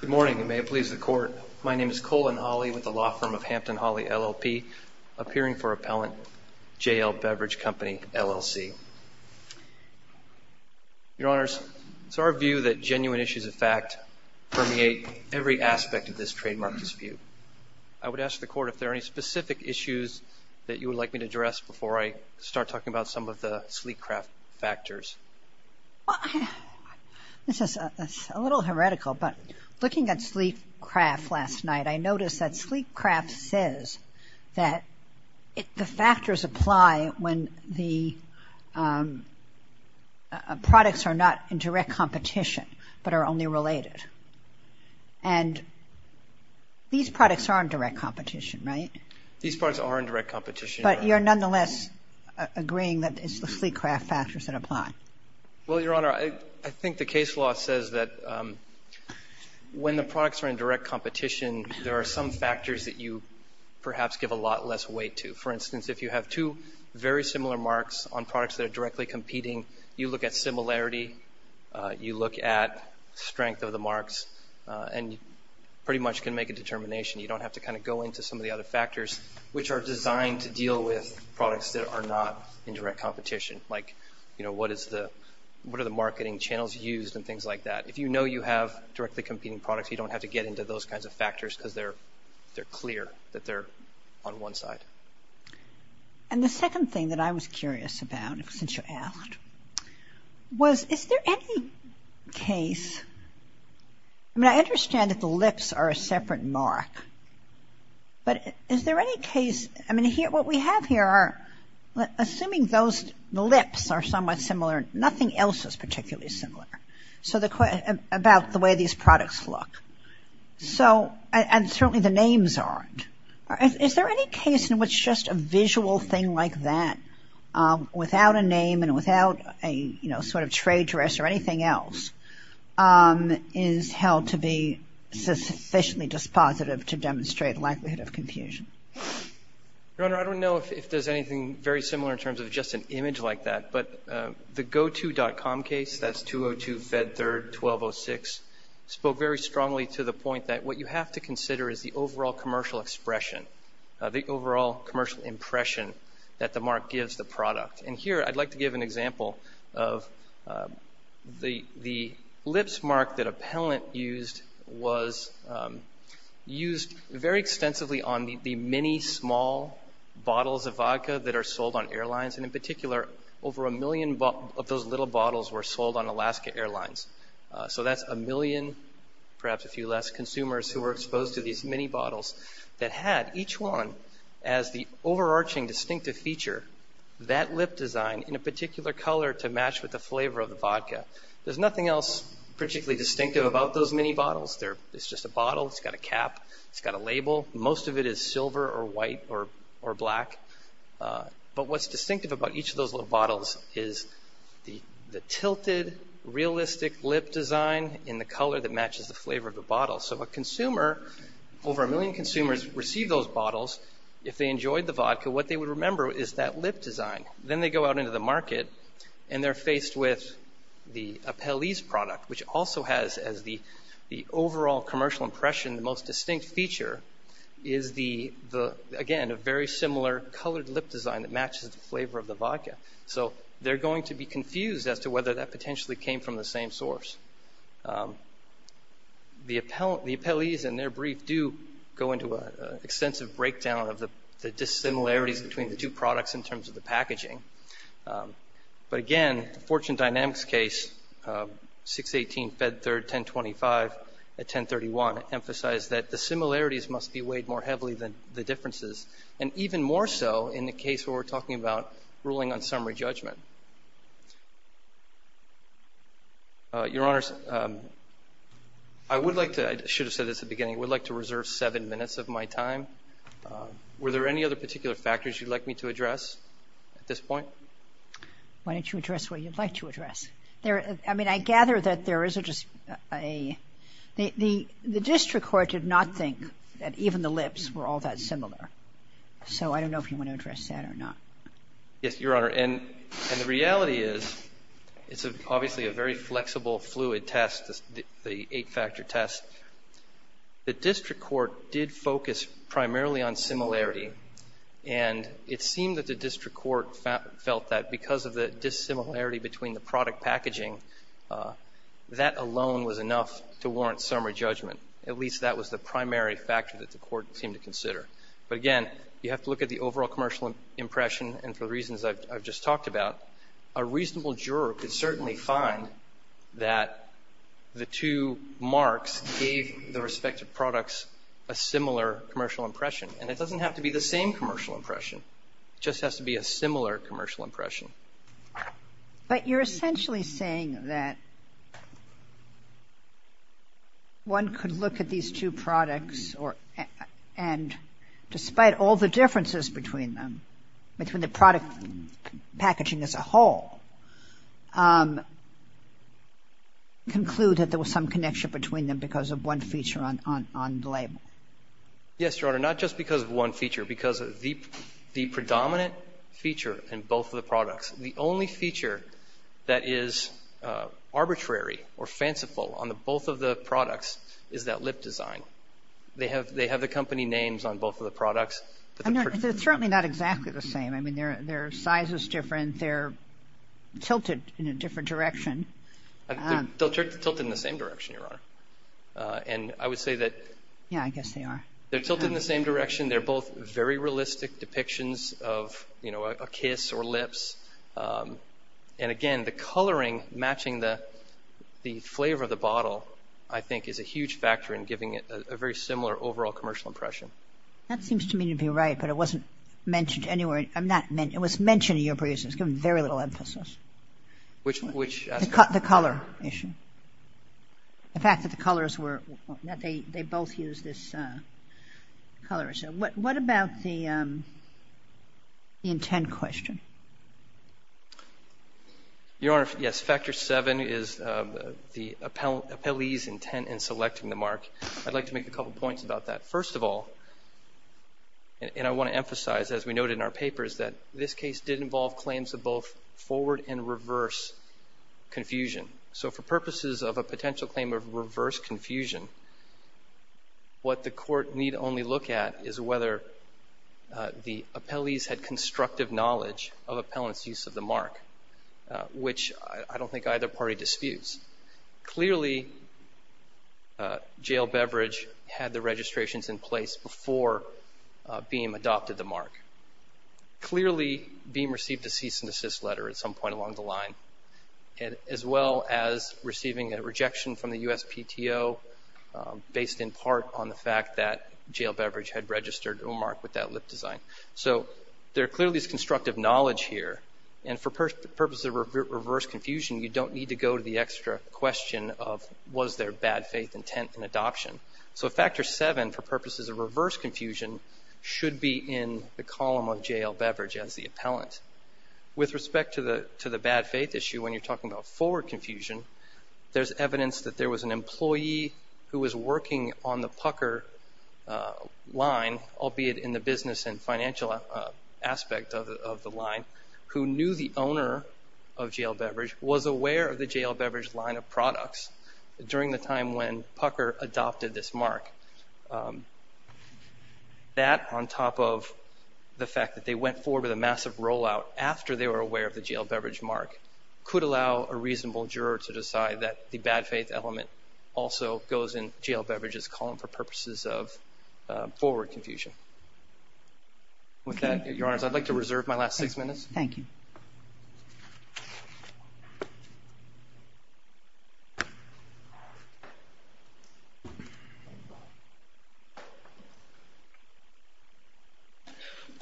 Good morning, and may it please the Court, my name is Colin Hawley with the law firm of Hampton Hawley LLP, appearing for Appellant JL Beverage Co. LLC. Your Honors, it's our view that genuine issues of fact permeate every aspect of this trademark dispute. I would ask the Court if there are any specific issues that you would like me to address before I start talking about some of the sleek craft factors. Well, this is a little heretical, but looking at sleek craft last night, I noticed that sleek craft says that the factors apply when the products are not in direct competition, but are only related. And these products are in direct competition, right? These products are in direct competition. But you're nonetheless agreeing that it's the sleek craft factors that apply. Well, Your Honor, I think the case law says that when the products are in direct competition, there are some factors that you perhaps give a lot less weight to. For instance, if you have two very similar marks on products that are directly competing, you look at similarity, you look at strength of the marks, and pretty much can make a determination. You don't have to kind of go into some of the other factors, which are designed to deal with products that are not in direct competition, like what are the marketing channels used and things like that. If you know you have directly competing products, you don't have to get into those kinds of factors because they're clear that they're on one side. And the second thing that I was curious about, since you asked, was is there any case – I mean, I understand that the lips are a separate mark. But is there any case – I mean, what we have here are – assuming the lips are somewhat similar, nothing else is particularly similar about the way these products look. And certainly the names aren't. Is there any case in which just a visual thing like that, without a name and without a sort of trade dress or anything else, is held to be sufficiently dispositive to demonstrate the likelihood of confusion? Your Honor, I don't know if there's anything very similar in terms of just an image like that. But the goto.com case, that's 202 Fed 3rd 1206, spoke very strongly to the point that what you have to consider is the overall commercial expression, the overall commercial impression that the mark gives the product. And here I'd like to give an example of the lips mark that a palant used was used very extensively on the many small bottles of vodka that are sold on airlines. And in particular, over a million of those little bottles were sold on Alaska Airlines. So that's a million, perhaps a few less, consumers who were exposed to these mini bottles that had each one as the overarching distinctive feature, that lip design in a particular color to match with the flavor of the vodka. There's nothing else particularly distinctive about those mini bottles. It's just a bottle. It's got a cap. It's got a label. Most of it is silver or white or black. But what's distinctive about each of those little bottles is the tilted, realistic lip design in the color that matches the flavor of the bottle. So a consumer, over a million consumers receive those bottles. If they enjoyed the vodka, what they would remember is that lip design. Then they go out into the market and they're faced with the Apelles product, which also has as the overall commercial impression the most distinct feature is the, again, a very similar colored lip design that matches the flavor of the vodka. So they're going to be confused as to whether that potentially came from the same source. The Apelles in their brief do go into an extensive breakdown of the dissimilarities between the two products in terms of the packaging. But, again, the Fortune Dynamics case, 618 Fed Third, 1025 at 1031, emphasized that the similarities must be weighed more heavily than the differences, and even more so in the case where we're talking about ruling on summary judgment. Your Honor, I would like to, I should have said this at the beginning, I would like to reserve seven minutes of my time. Were there any other particular factors you'd like me to address at this point? Why don't you address what you'd like to address? I mean, I gather that there is just a, the district court did not think that even the lips were all that similar. So I don't know if you want to address that or not. Yes, Your Honor. And the reality is it's obviously a very flexible, fluid test, the eight-factor test. The district court did focus primarily on similarity, and it seemed that the district court felt that because of the dissimilarity between the product packaging, that alone was enough to warrant summary judgment. At least that was the primary factor that the court seemed to consider. But, again, you have to look at the overall commercial impression, and for the reasons I've just talked about, a reasonable juror could certainly find that the two marks gave the respective products a similar commercial impression. And it doesn't have to be the same commercial impression. It just has to be a similar commercial impression. But you're essentially saying that one could look at these two products or, and despite all the differences between them, between the product packaging as a whole, conclude that there was some connection between them because of one feature on the label. Yes, Your Honor. Not just because of one feature. Because the predominant feature in both of the products, the only feature that is arbitrary or fanciful on both of the products is that lip design. So they have the company names on both of the products. They're certainly not exactly the same. I mean, their size is different. They're tilted in a different direction. They're tilted in the same direction, Your Honor. And I would say that they're tilted in the same direction. They're both very realistic depictions of a kiss or lips. And, again, the coloring matching the flavor of the bottle, I think, is a huge factor in giving it a very similar overall commercial impression. That seems to me to be right, but it wasn't mentioned anywhere. It was mentioned in your briefs. It was given very little emphasis. Which aspect? The color issue. The fact that the colors were, that they both used this color issue. What about the intent question? Your Honor, yes, Factor VII is the appellee's intent in selecting the mark. I'd like to make a couple points about that. First of all, and I want to emphasize, as we noted in our papers, that this case did involve claims of both forward and reverse confusion. So for purposes of a potential claim of reverse confusion, what the court need only look at is whether the appellees had constructive knowledge of appellant's use of the mark, which I don't think either party disputes. Clearly, Jail Beverage had the registrations in place before Beam adopted the mark. Clearly, Beam received a cease and desist letter at some point along the line, as well as receiving a rejection from the USPTO based in part on the fact that Jail Beverage had registered Omar with that lip design. So there clearly is constructive knowledge here. And for purposes of reverse confusion, you don't need to go to the extra question of was there bad faith intent in adoption. So Factor VII, for purposes of reverse confusion, should be in the column of Jail Beverage as the appellant. With respect to the bad faith issue when you're talking about forward confusion, there's evidence that there was an employee who was working on the Pucker line, albeit in the business and financial aspect of the line, who knew the owner of Jail Beverage, was aware of the Jail Beverage line of products during the time when Pucker adopted this mark. That, on top of the fact that they went forward with a massive rollout after they were aware of the Jail Beverage mark, could allow a reasonable juror to decide that the bad faith element also goes in Jail Beverage's column for purposes of forward confusion. With that, Your Honors, I'd like to reserve my last six minutes. Thank you.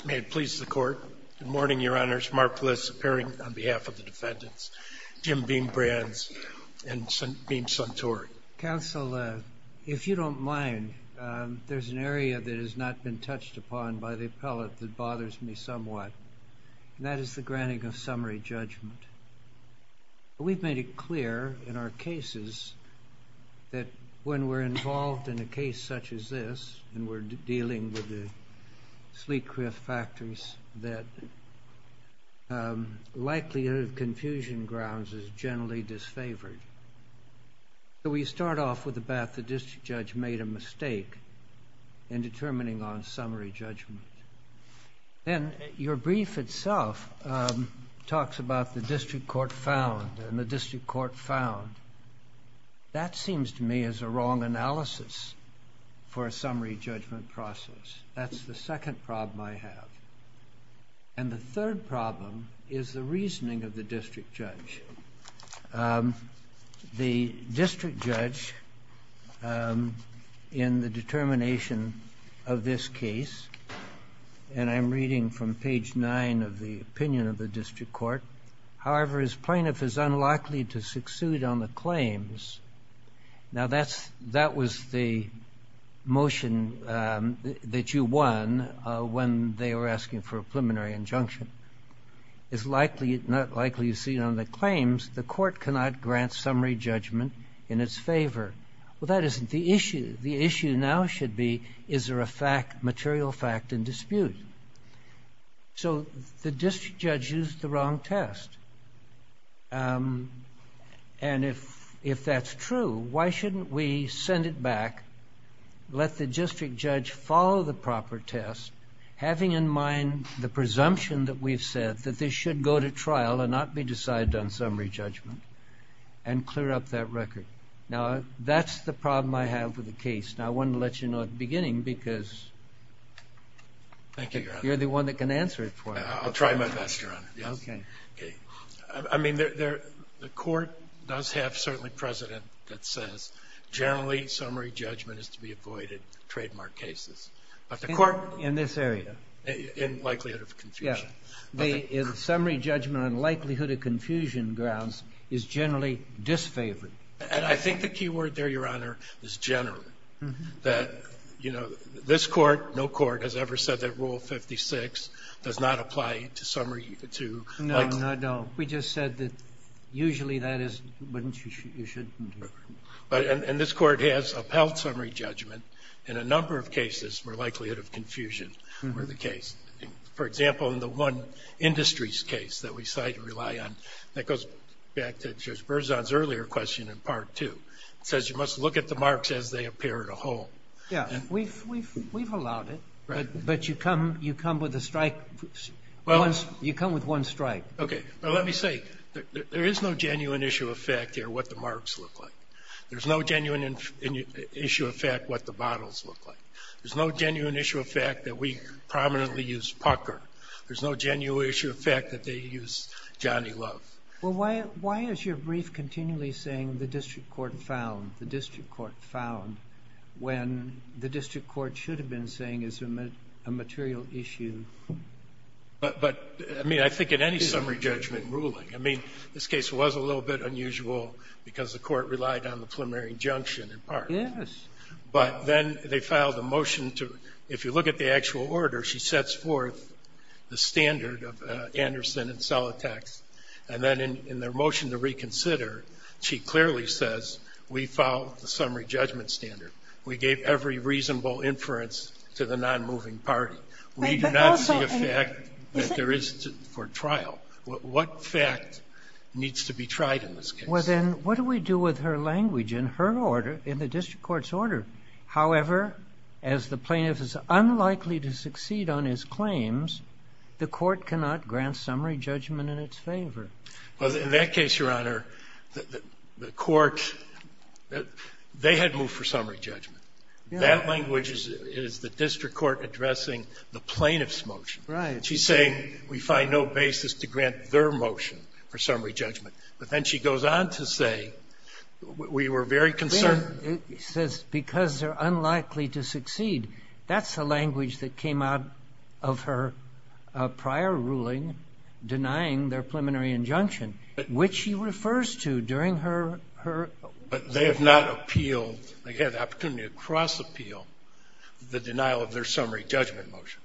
May it please the Court. Good morning, Your Honors. Mark Bliss, appearing on behalf of the defendants. Jim Beam-Brands and Beam-Suntory. Counsel, if you don't mind, there's an area that has not been touched upon by the appellate that bothers me somewhat, and that is the granting of summary judgment. We've made it clear in our cases that when we're involved in a case like this, and we're dealing with the Sleet-Criff Factories, that likelihood of confusion grounds is generally disfavored. So we start off with the fact that the district judge made a mistake in determining on summary judgment. And your brief itself talks about the district court found and the district court found. That seems to me is a wrong analysis for a summary judgment process. That's the second problem I have. And the third problem is the reasoning of the district judge. The district judge, in the determination of this case, and I'm reading from page nine of the opinion of the district court, however, his plaintiff is unlikely to succeed on the claims. Now, that was the motion that you won when they were asking for a preliminary injunction. It's not likely to succeed on the claims. The court cannot grant summary judgment in its favor. Well, that isn't the issue. The issue now should be, is there a material fact in dispute? So the district judge used the wrong test. And if that's true, why shouldn't we send it back, let the district judge follow the proper test, having in mind the presumption that we've said that this should go to trial and not be decided on summary judgment, and clear up that record. Now, that's the problem I have with the case. Now, I wanted to let you know at the beginning, because you're the one that can answer it for me. I'll try my best, Your Honor. Okay. I mean, the court does have, certainly, precedent that says, generally, summary judgment is to be avoided in trademark cases. In this area? In likelihood of confusion. The summary judgment on likelihood of confusion grounds is generally disfavored. And I think the key word there, Your Honor, is generally. That, you know, this Court, no court has ever said that Rule 56 does not apply to summary to like to. No, no, no. We just said that usually that is what you shouldn't do. And this Court has upheld summary judgment in a number of cases where likelihood of confusion were the case. For example, in the one industries case that we decided to rely on, that goes back to Judge Berzon's earlier question in Part 2. It says you must look at the marks as they appear in a whole. Yeah. We've allowed it. Right. But you come with a strike. You come with one strike. Okay. But let me say, there is no genuine issue of fact here what the marks look like. There's no genuine issue of fact what the bottles look like. There's no genuine issue of fact that we prominently use Pucker. There's no genuine issue of fact that they use Johnny Love. Well, why is your brief continually saying the district court found, the district court found, when the district court should have been saying it's a material issue? But, I mean, I think in any summary judgment ruling, I mean, this case was a little bit unusual because the court relied on the preliminary injunction in part. Yes. But then they filed a motion to, if you look at the actual order, she sets forth the standard of Anderson and Solitax. And then in their motion to reconsider, she clearly says we filed the summary judgment standard. We gave every reasonable inference to the nonmoving party. We do not see a fact that there is for trial. What fact needs to be tried in this case? Well, then, what do we do with her language in her order, in the district court's order? However, as the plaintiff is unlikely to succeed on his claims, the court cannot grant summary judgment in its favor. Well, in that case, Your Honor, the court, they had moved for summary judgment. That language is the district court addressing the plaintiff's motion. Right. She's saying we find no basis to grant their motion for summary judgment. But then she goes on to say we were very concerned. It says because they're unlikely to succeed. That's the language that came out of her prior ruling denying their preliminary injunction, which she refers to during her order. But they have not appealed. They had the opportunity to cross-appeal the denial of their summary judgment motion.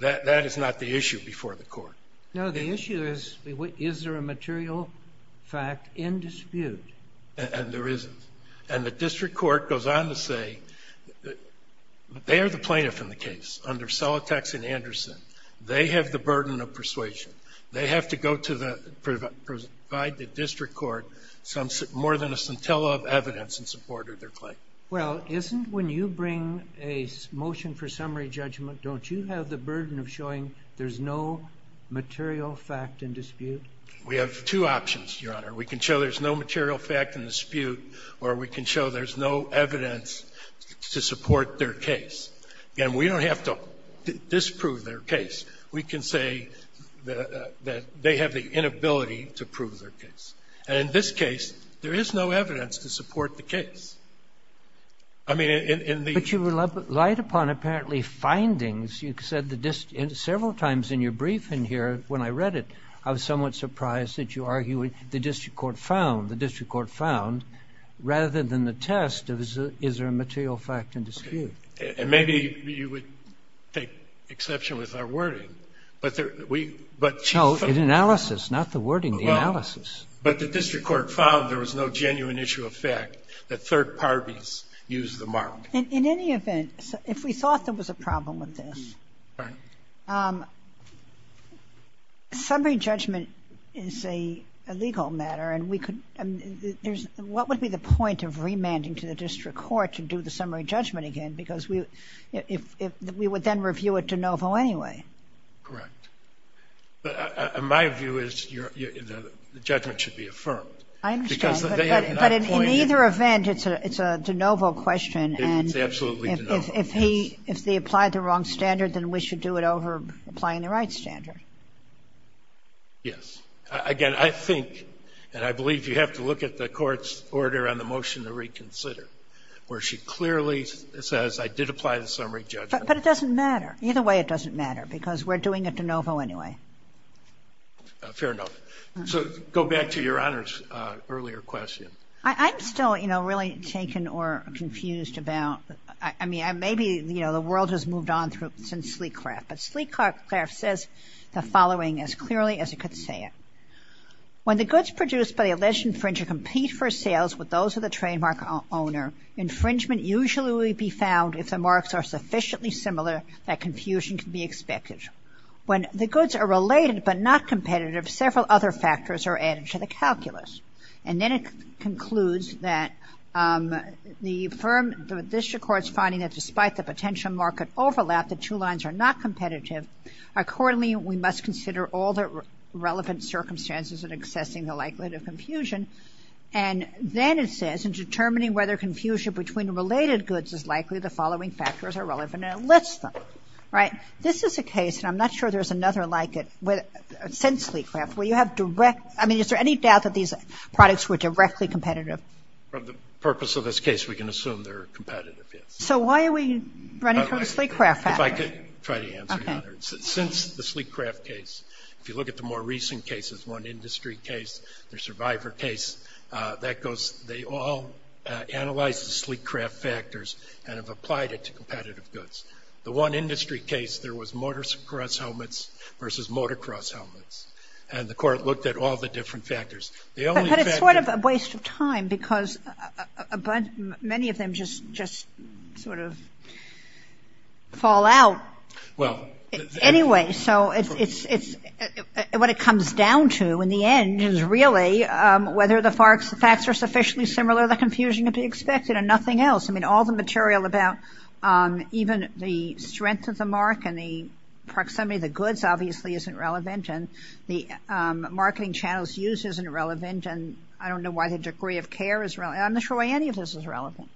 That is not the issue before the court. No, the issue is, is there a material fact in dispute? And there isn't. And the district court goes on to say they are the plaintiff in the case, under Solitax and Anderson. They have the burden of persuasion. They have to go to the district court more than a scintilla of evidence in support of their claim. Well, isn't when you bring a motion for summary judgment, don't you have the material fact in dispute? We have two options, Your Honor. We can show there's no material fact in dispute, or we can show there's no evidence to support their case. Again, we don't have to disprove their case. We can say that they have the inability to prove their case. And in this case, there is no evidence to support the case. I mean, in the ---- But you relied upon apparently findings. You said several times in your briefing here, when I read it, I was somewhat surprised that you argue the district court found. The district court found, rather than the test, is there a material fact in dispute? And maybe you would take exception with our wording. But we ---- No, in analysis, not the wording, the analysis. But the district court found there was no genuine issue of fact. The third parties used the mark. In any event, if we thought there was a problem with this, summary judgment is a legal matter, and we could ---- what would be the point of remanding to the district court to do the summary judgment again? Because we would then review it de novo anyway. Correct. My view is the judgment should be affirmed. I understand. But in either event, it's a de novo question. It's absolutely de novo. If he ---- if they applied the wrong standard, then we should do it over applying the right standard. Yes. Again, I think, and I believe you have to look at the Court's order on the motion to reconsider, where she clearly says, I did apply the summary judgment. But it doesn't matter. Either way, it doesn't matter, because we're doing it de novo anyway. Fair enough. So go back to Your Honor's earlier question. I'm still, you know, really taken or confused about ---- I mean, maybe, you know, the world has moved on since Sleekcraft. But Sleekcraft says the following as clearly as he could say it. When the goods produced by the alleged infringer compete for sales with those of the trademark owner, infringement usually will be found if the marks are sufficiently similar that confusion can be expected. When the goods are related but not competitive, several other factors are added to the calculus. And then it concludes that the firm, the district court's finding that despite the potential market overlap, the two lines are not competitive. Accordingly, we must consider all the relevant circumstances in assessing the likelihood of confusion. And then it says, in determining whether confusion between related goods is likely, the following factors are relevant, and it lists them. Right? So this is a case, and I'm not sure there's another like it since Sleekcraft, where you have direct ---- I mean, is there any doubt that these products were directly competitive? From the purpose of this case, we can assume they're competitive, yes. So why are we running from the Sleekcraft factor? If I could try to answer, Your Honor. Okay. Since the Sleekcraft case, if you look at the more recent cases, one industry case, the survivor case, that goes ---- they all analyze the Sleekcraft factors and have applied it to competitive goods. The one industry case, there was motocross helmets versus motocross helmets. And the Court looked at all the different factors. The only factor ---- But it's sort of a waste of time, because many of them just sort of fall out. Well ---- Anyway, so it's ---- what it comes down to in the end is really whether the facts are sufficiently similar, the confusion can be expected, and nothing else. I mean, all the material about even the strength of the mark and the proximity of the goods obviously isn't relevant, and the marketing channels used isn't relevant, and I don't know why the degree of care is relevant. I'm not sure why any of this is relevant.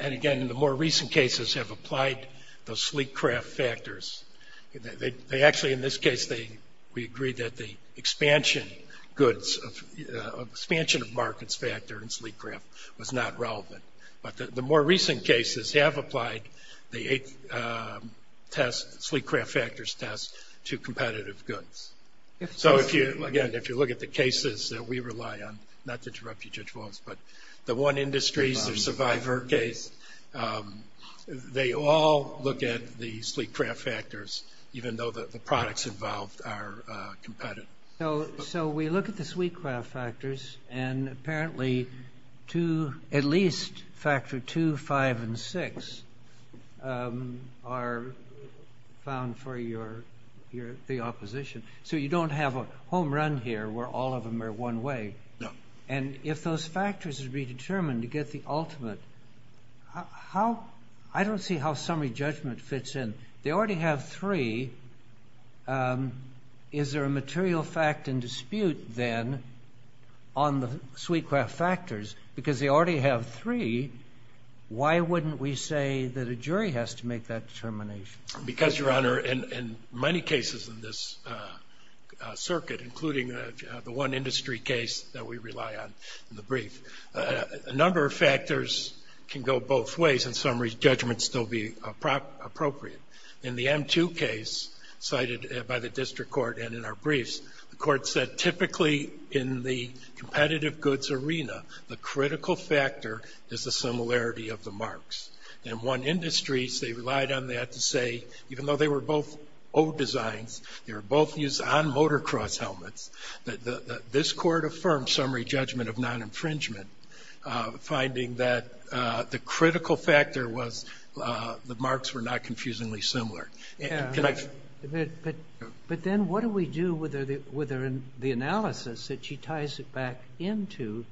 And again, the more recent cases have applied the Sleekcraft factors. They actually, in this case, they ---- we agree that the expansion goods, expansion of markets factor in Sleekcraft was not relevant. But the more recent cases have applied the Sleekcraft factors test to competitive goods. So, again, if you look at the cases that we rely on, not to interrupt you, Judge Walz, but the one industry survivor case, they all look at the Sleekcraft factors, even though the products involved are competitive. So we look at the Sleekcraft factors, and apparently at least factor 2, 5, and 6 are found for the opposition. So you don't have a home run here where all of them are one way. And if those factors would be determined to get the ultimate, I don't see how summary judgment fits in. They already have three. Is there a material fact and dispute then on the Sleekcraft factors? Because they already have three. Why wouldn't we say that a jury has to make that determination? Because, Your Honor, in many cases in this circuit, including the one industry case that we rely on in the brief, a number of factors can go both ways and summary judgment still be appropriate. In the M2 case cited by the district court and in our briefs, the court said typically in the competitive goods arena, the critical factor is the similarity of the marks. In one industry, they relied on that to say, even though they were both old designs, they were both used on motocross helmets, this court affirmed summary judgment of non-infringement, finding that the critical factor was the marks were not confusingly similar. But then what do we do with the analysis that she ties it back into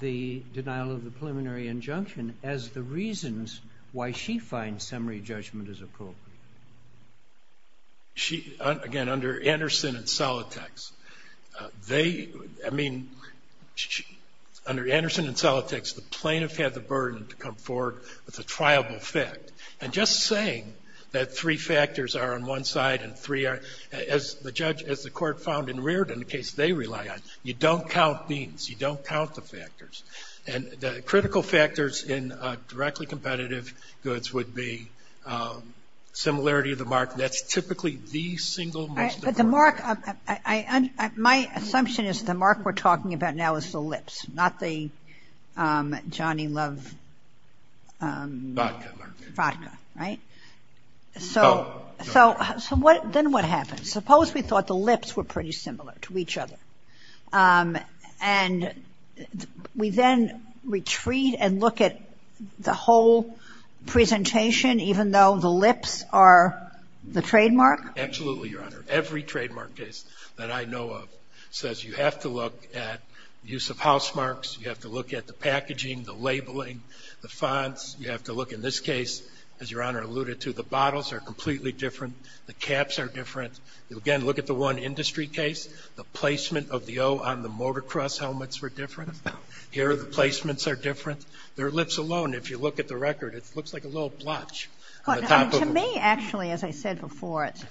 the denial of the preliminary injunction as the reasons why she finds summary judgment as appropriate? She, again, under Anderson and Solitex, they, I mean, under Anderson and Solitex, the plaintiff had the burden to come forward with a triable fact. And just saying that three factors are on one side and three are, as the judge, as the court found in Reardon, a case they rely on, you don't count means. You don't count the factors. And the critical factors in directly competitive goods would be similarity of the mark. That's typically the single most important. But the mark, my assumption is the mark we're talking about now is the lips, not the Johnny Love. Vodka mark. Vodka, right? So then what happens? Suppose we thought the lips were pretty similar to each other. And we then retreat and look at the whole presentation even though the lips are the trademark? Absolutely, Your Honor. Every trademark case that I know of says you have to look at use of house marks, you have to look at the packaging, the labeling, the fonts. You have to look in this case, as Your Honor alluded to, the bottles are completely different, the caps are different. Again, look at the one industry case. The placement of the O on the motocross helmets were different. Here the placements are different. Their lips alone, if you look at the record, it looks like a little blotch on the top of them. To me, actually, as I said before, it's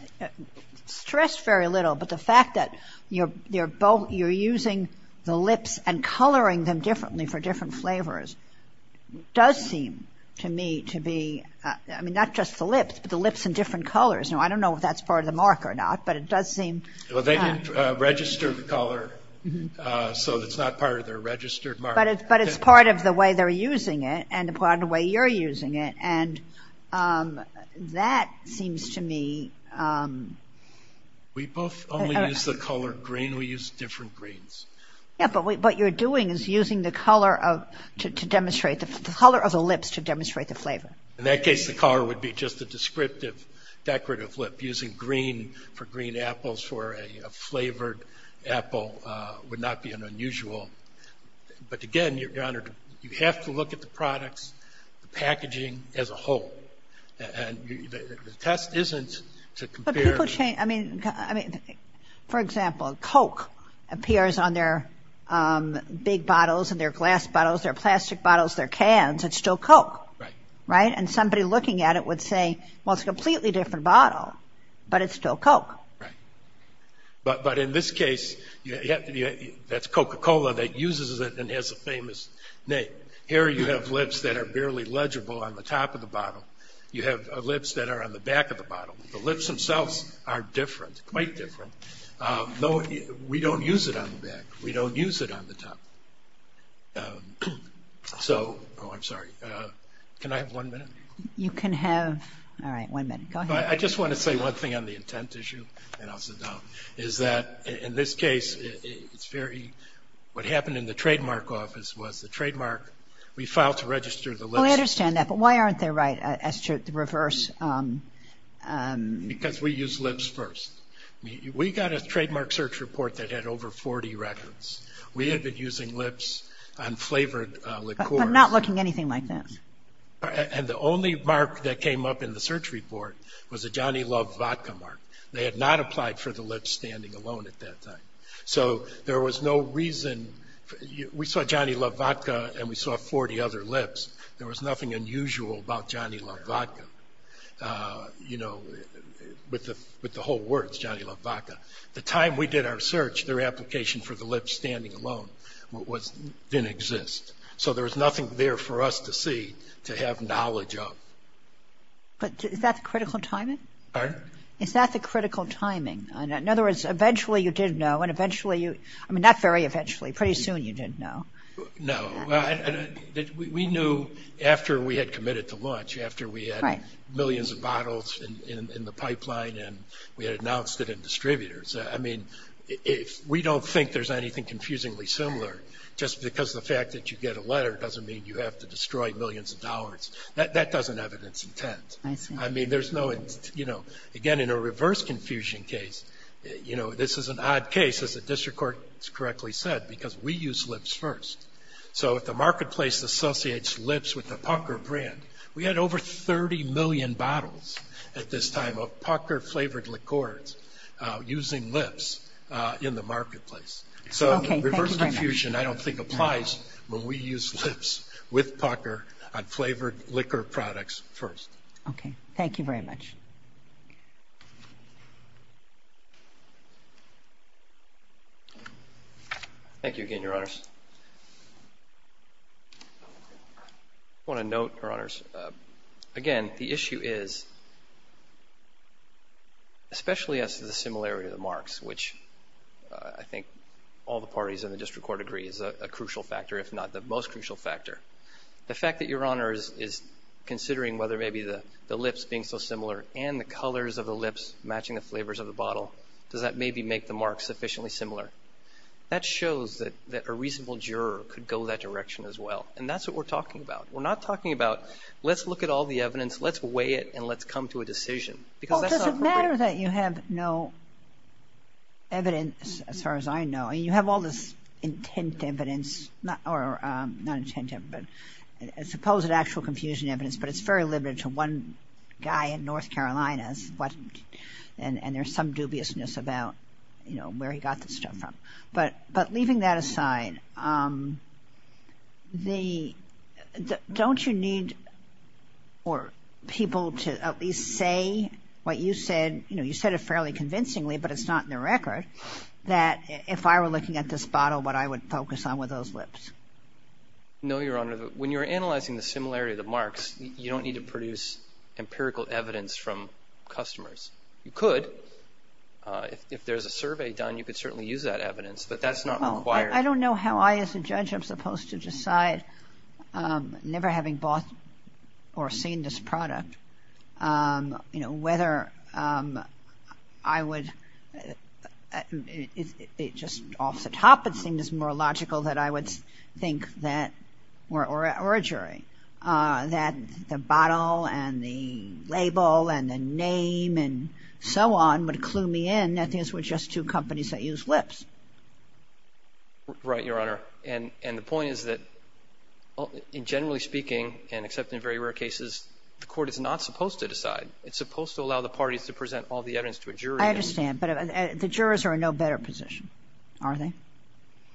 stressed very little, but the fact that you're using the lips and coloring them differently for different flavors does seem to me to be, I mean, not just the lips, but the lips in different colors. Now, I don't know if that's part of the mark or not, but it does seem. Well, they didn't register the color, so it's not part of their registered mark. But it's part of the way they're using it and part of the way you're using it, and that seems to me. We both only use the color green. We use different greens. Yeah, but what you're doing is using the color of, to demonstrate, the color of the lips to demonstrate the flavor. In that case, the color would be just a descriptive decorative lip. Using green for green apples for a flavored apple would not be an unusual. But again, Your Honor, you have to look at the products, the packaging as a whole. And the test isn't to compare. But people change. I mean, for example, Coke appears on their big bottles and their glass bottles, their plastic bottles, their cans. It's still Coke. Right. And somebody looking at it would say, well, it's a completely different bottle, but it's still Coke. Right. But in this case, that's Coca-Cola that uses it and has a famous name. Here you have lips that are barely legible on the top of the bottle. You have lips that are on the back of the bottle. The lips themselves are different, quite different. We don't use it on the back. We don't use it on the top. So – oh, I'm sorry. Can I have one minute? You can have – all right, one minute. Go ahead. I just want to say one thing on the intent issue, and I'll sit down, is that in this case it's very – what happened in the trademark office was the trademark, we filed to register the lips. Oh, I understand that. But why aren't they right as to reverse? Because we use lips first. We got a trademark search report that had over 40 records. We had been using lips on flavored liqueurs. But not looking anything like this. And the only mark that came up in the search report was a Johnny Love Vodka mark. They had not applied for the lips standing alone at that time. So there was no reason – we saw Johnny Love Vodka and we saw 40 other lips. There was nothing unusual about Johnny Love Vodka, you know, with the whole words Johnny Love Vodka. The time we did our search, their application for the lips standing alone didn't exist. So there was nothing there for us to see, to have knowledge of. But is that the critical timing? Pardon? Is that the critical timing? In other words, eventually you did know, and eventually you – I mean, not very eventually. Pretty soon you didn't know. No. We knew after we had committed to launch, after we had millions of bottles in the pipeline and we had announced it in distributors. I mean, we don't think there's anything confusingly similar. Just because the fact that you get a letter doesn't mean you have to destroy millions of dollars. That doesn't have an intent. I see. I mean, there's no – you know, again, in a reverse confusion case, you know, this is an odd case, as the district court correctly said, because we used lips first. So if the marketplace associates lips with the Pucker brand, we had over 30 million bottles at this time of Pucker-flavored liqueurs using lips in the marketplace. So reverse confusion I don't think applies when we use lips with Pucker on flavored liquor products first. Okay. Thank you very much. Thank you again, Your Honors. I want to note, Your Honors, again, the issue is, especially as to the similarity of the marks, which I think all the parties in the district court agree is a crucial factor, if not the most crucial factor, the fact that Your Honors is considering whether maybe the lips being so similar and the colors of the lips matching the flavors of the bottle, does that maybe make the marks sufficiently similar? That shows that a reasonable juror could go that direction as well. And that's what we're talking about. We're not talking about let's look at all the evidence, let's weigh it, and let's come to a decision. Because that's not appropriate. Well, does it matter that you have no evidence, as far as I know? I mean, you have all this intent evidence – or not intent, but supposed actual confusion evidence, but it's very limited to one guy in North Carolina, and there's some dubiousness about where he got this stuff from. But leaving that aside, don't you need people to at least say what you said? You said it fairly convincingly, but it's not in the record, that if I were looking at this bottle, what I would focus on were those lips. No, Your Honor. When you're analyzing the similarity of the marks, you don't need to produce empirical evidence from customers. You could. If there's a survey done, you could certainly use that evidence, but that's not required. I don't know how I, as a judge, am supposed to decide, never having bought or seen this product, whether I would – just off the top, it seems more logical that I would think that – or a jury – that the bottle and the label and the name and so on would clue me in, that these were just two companies that used lips. Right, Your Honor. And the point is that, generally speaking, and except in very rare cases, the Court is not supposed to decide. It's supposed to allow the parties to present all the evidence to a jury. I understand. But the jurors are in no better position, are they?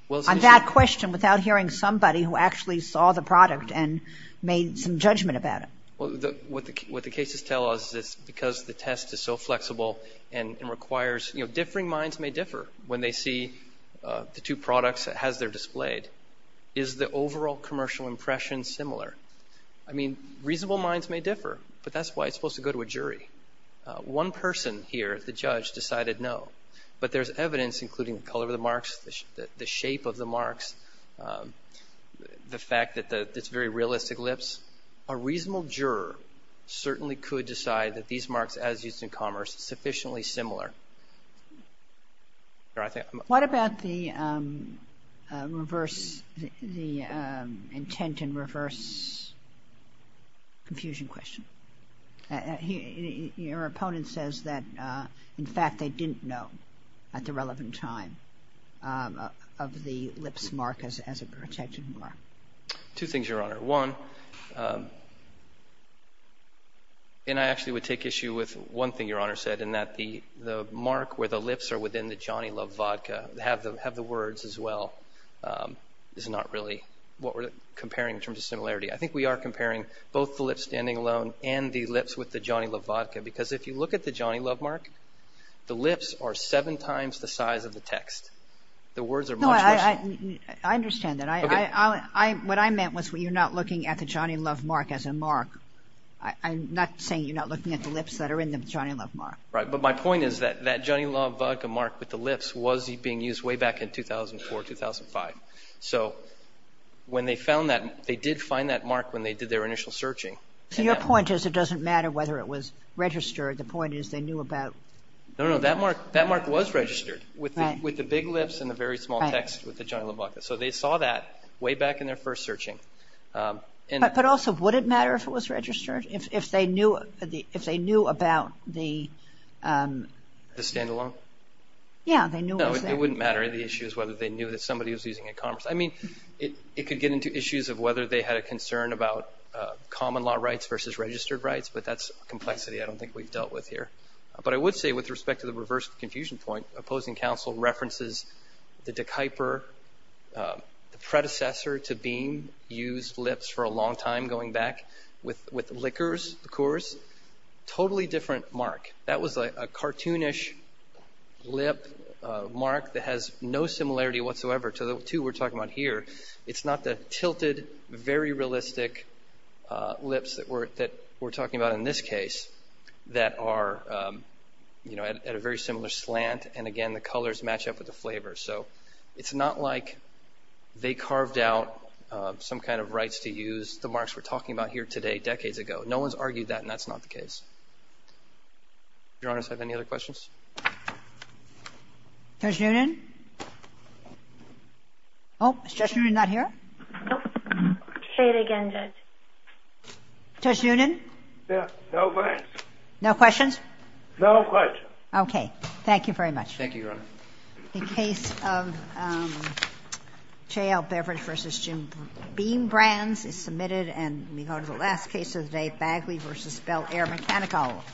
On that question, without hearing somebody who actually saw the product and made some judgment about it. What the cases tell us is because the test is so flexible and requires – differing minds may differ when they see the two products as they're displayed. Is the overall commercial impression similar? I mean, reasonable minds may differ, but that's why it's supposed to go to a jury. One person here, the judge, decided no. But there's evidence, including the color of the marks, the shape of the marks, the fact that it's very realistic lips. A reasonable juror certainly could decide that these marks, as used in commerce, are sufficiently similar. What about the reverse – the intent and reverse confusion question? Your opponent says that, in fact, they didn't know at the relevant time of the lips mark as a protection mark. Two things, Your Honor. One, and I actually would take issue with one thing Your Honor said, in that the mark where the lips are within the Johnny Love vodka have the words as well, is not really what we're comparing in terms of similarity. I think we are comparing both the lips standing alone and the lips with the Johnny Love vodka, because if you look at the Johnny Love mark, the lips are seven times the size of the text. The words are much less – No, I understand that. Okay. What I meant was you're not looking at the Johnny Love mark as a mark. I'm not saying you're not looking at the lips that are in the Johnny Love mark. Right. But my point is that that Johnny Love vodka mark with the lips was being used way back in 2004, 2005. So when they found that, they did find that mark when they did their initial searching. So your point is it doesn't matter whether it was registered. The point is they knew about – No, no. That mark was registered with the big lips and the very small text with the Johnny Love vodka. So they saw that way back in their first searching. But also, would it matter if it was registered, if they knew about the – The standalone? Yeah, they knew it was there. It wouldn't matter. The issue is whether they knew that somebody was using it in commerce. I mean, it could get into issues of whether they had a concern about common law rights versus registered rights, but that's a complexity I don't think we've dealt with here. But I would say, with respect to the reverse confusion point, Opposing Counsel references the De Kuyper, the predecessor to being used lips for a long time going back with liquors, liqueurs, totally different mark. That was a cartoonish lip mark that has no similarity whatsoever to the two we're talking about here. It's not the tilted, very realistic lips that we're talking about in this case that are at a very similar slant. And again, the colors match up with the flavor. So it's not like they carved out some kind of rights to use the marks we're talking about here today decades ago. No one's argued that, and that's not the case. Your Honor, do I have any other questions? Judge Noonan? Oh, is Judge Noonan not here? Say it again, Judge. Judge Noonan? No questions. No questions? No questions. Okay. Thank you very much. Thank you, Your Honor. The case of Chayle Beverage v. Jim Beam Brands is submitted, and we go to the last case of the day, Bagley v. Bel Air Mechanical.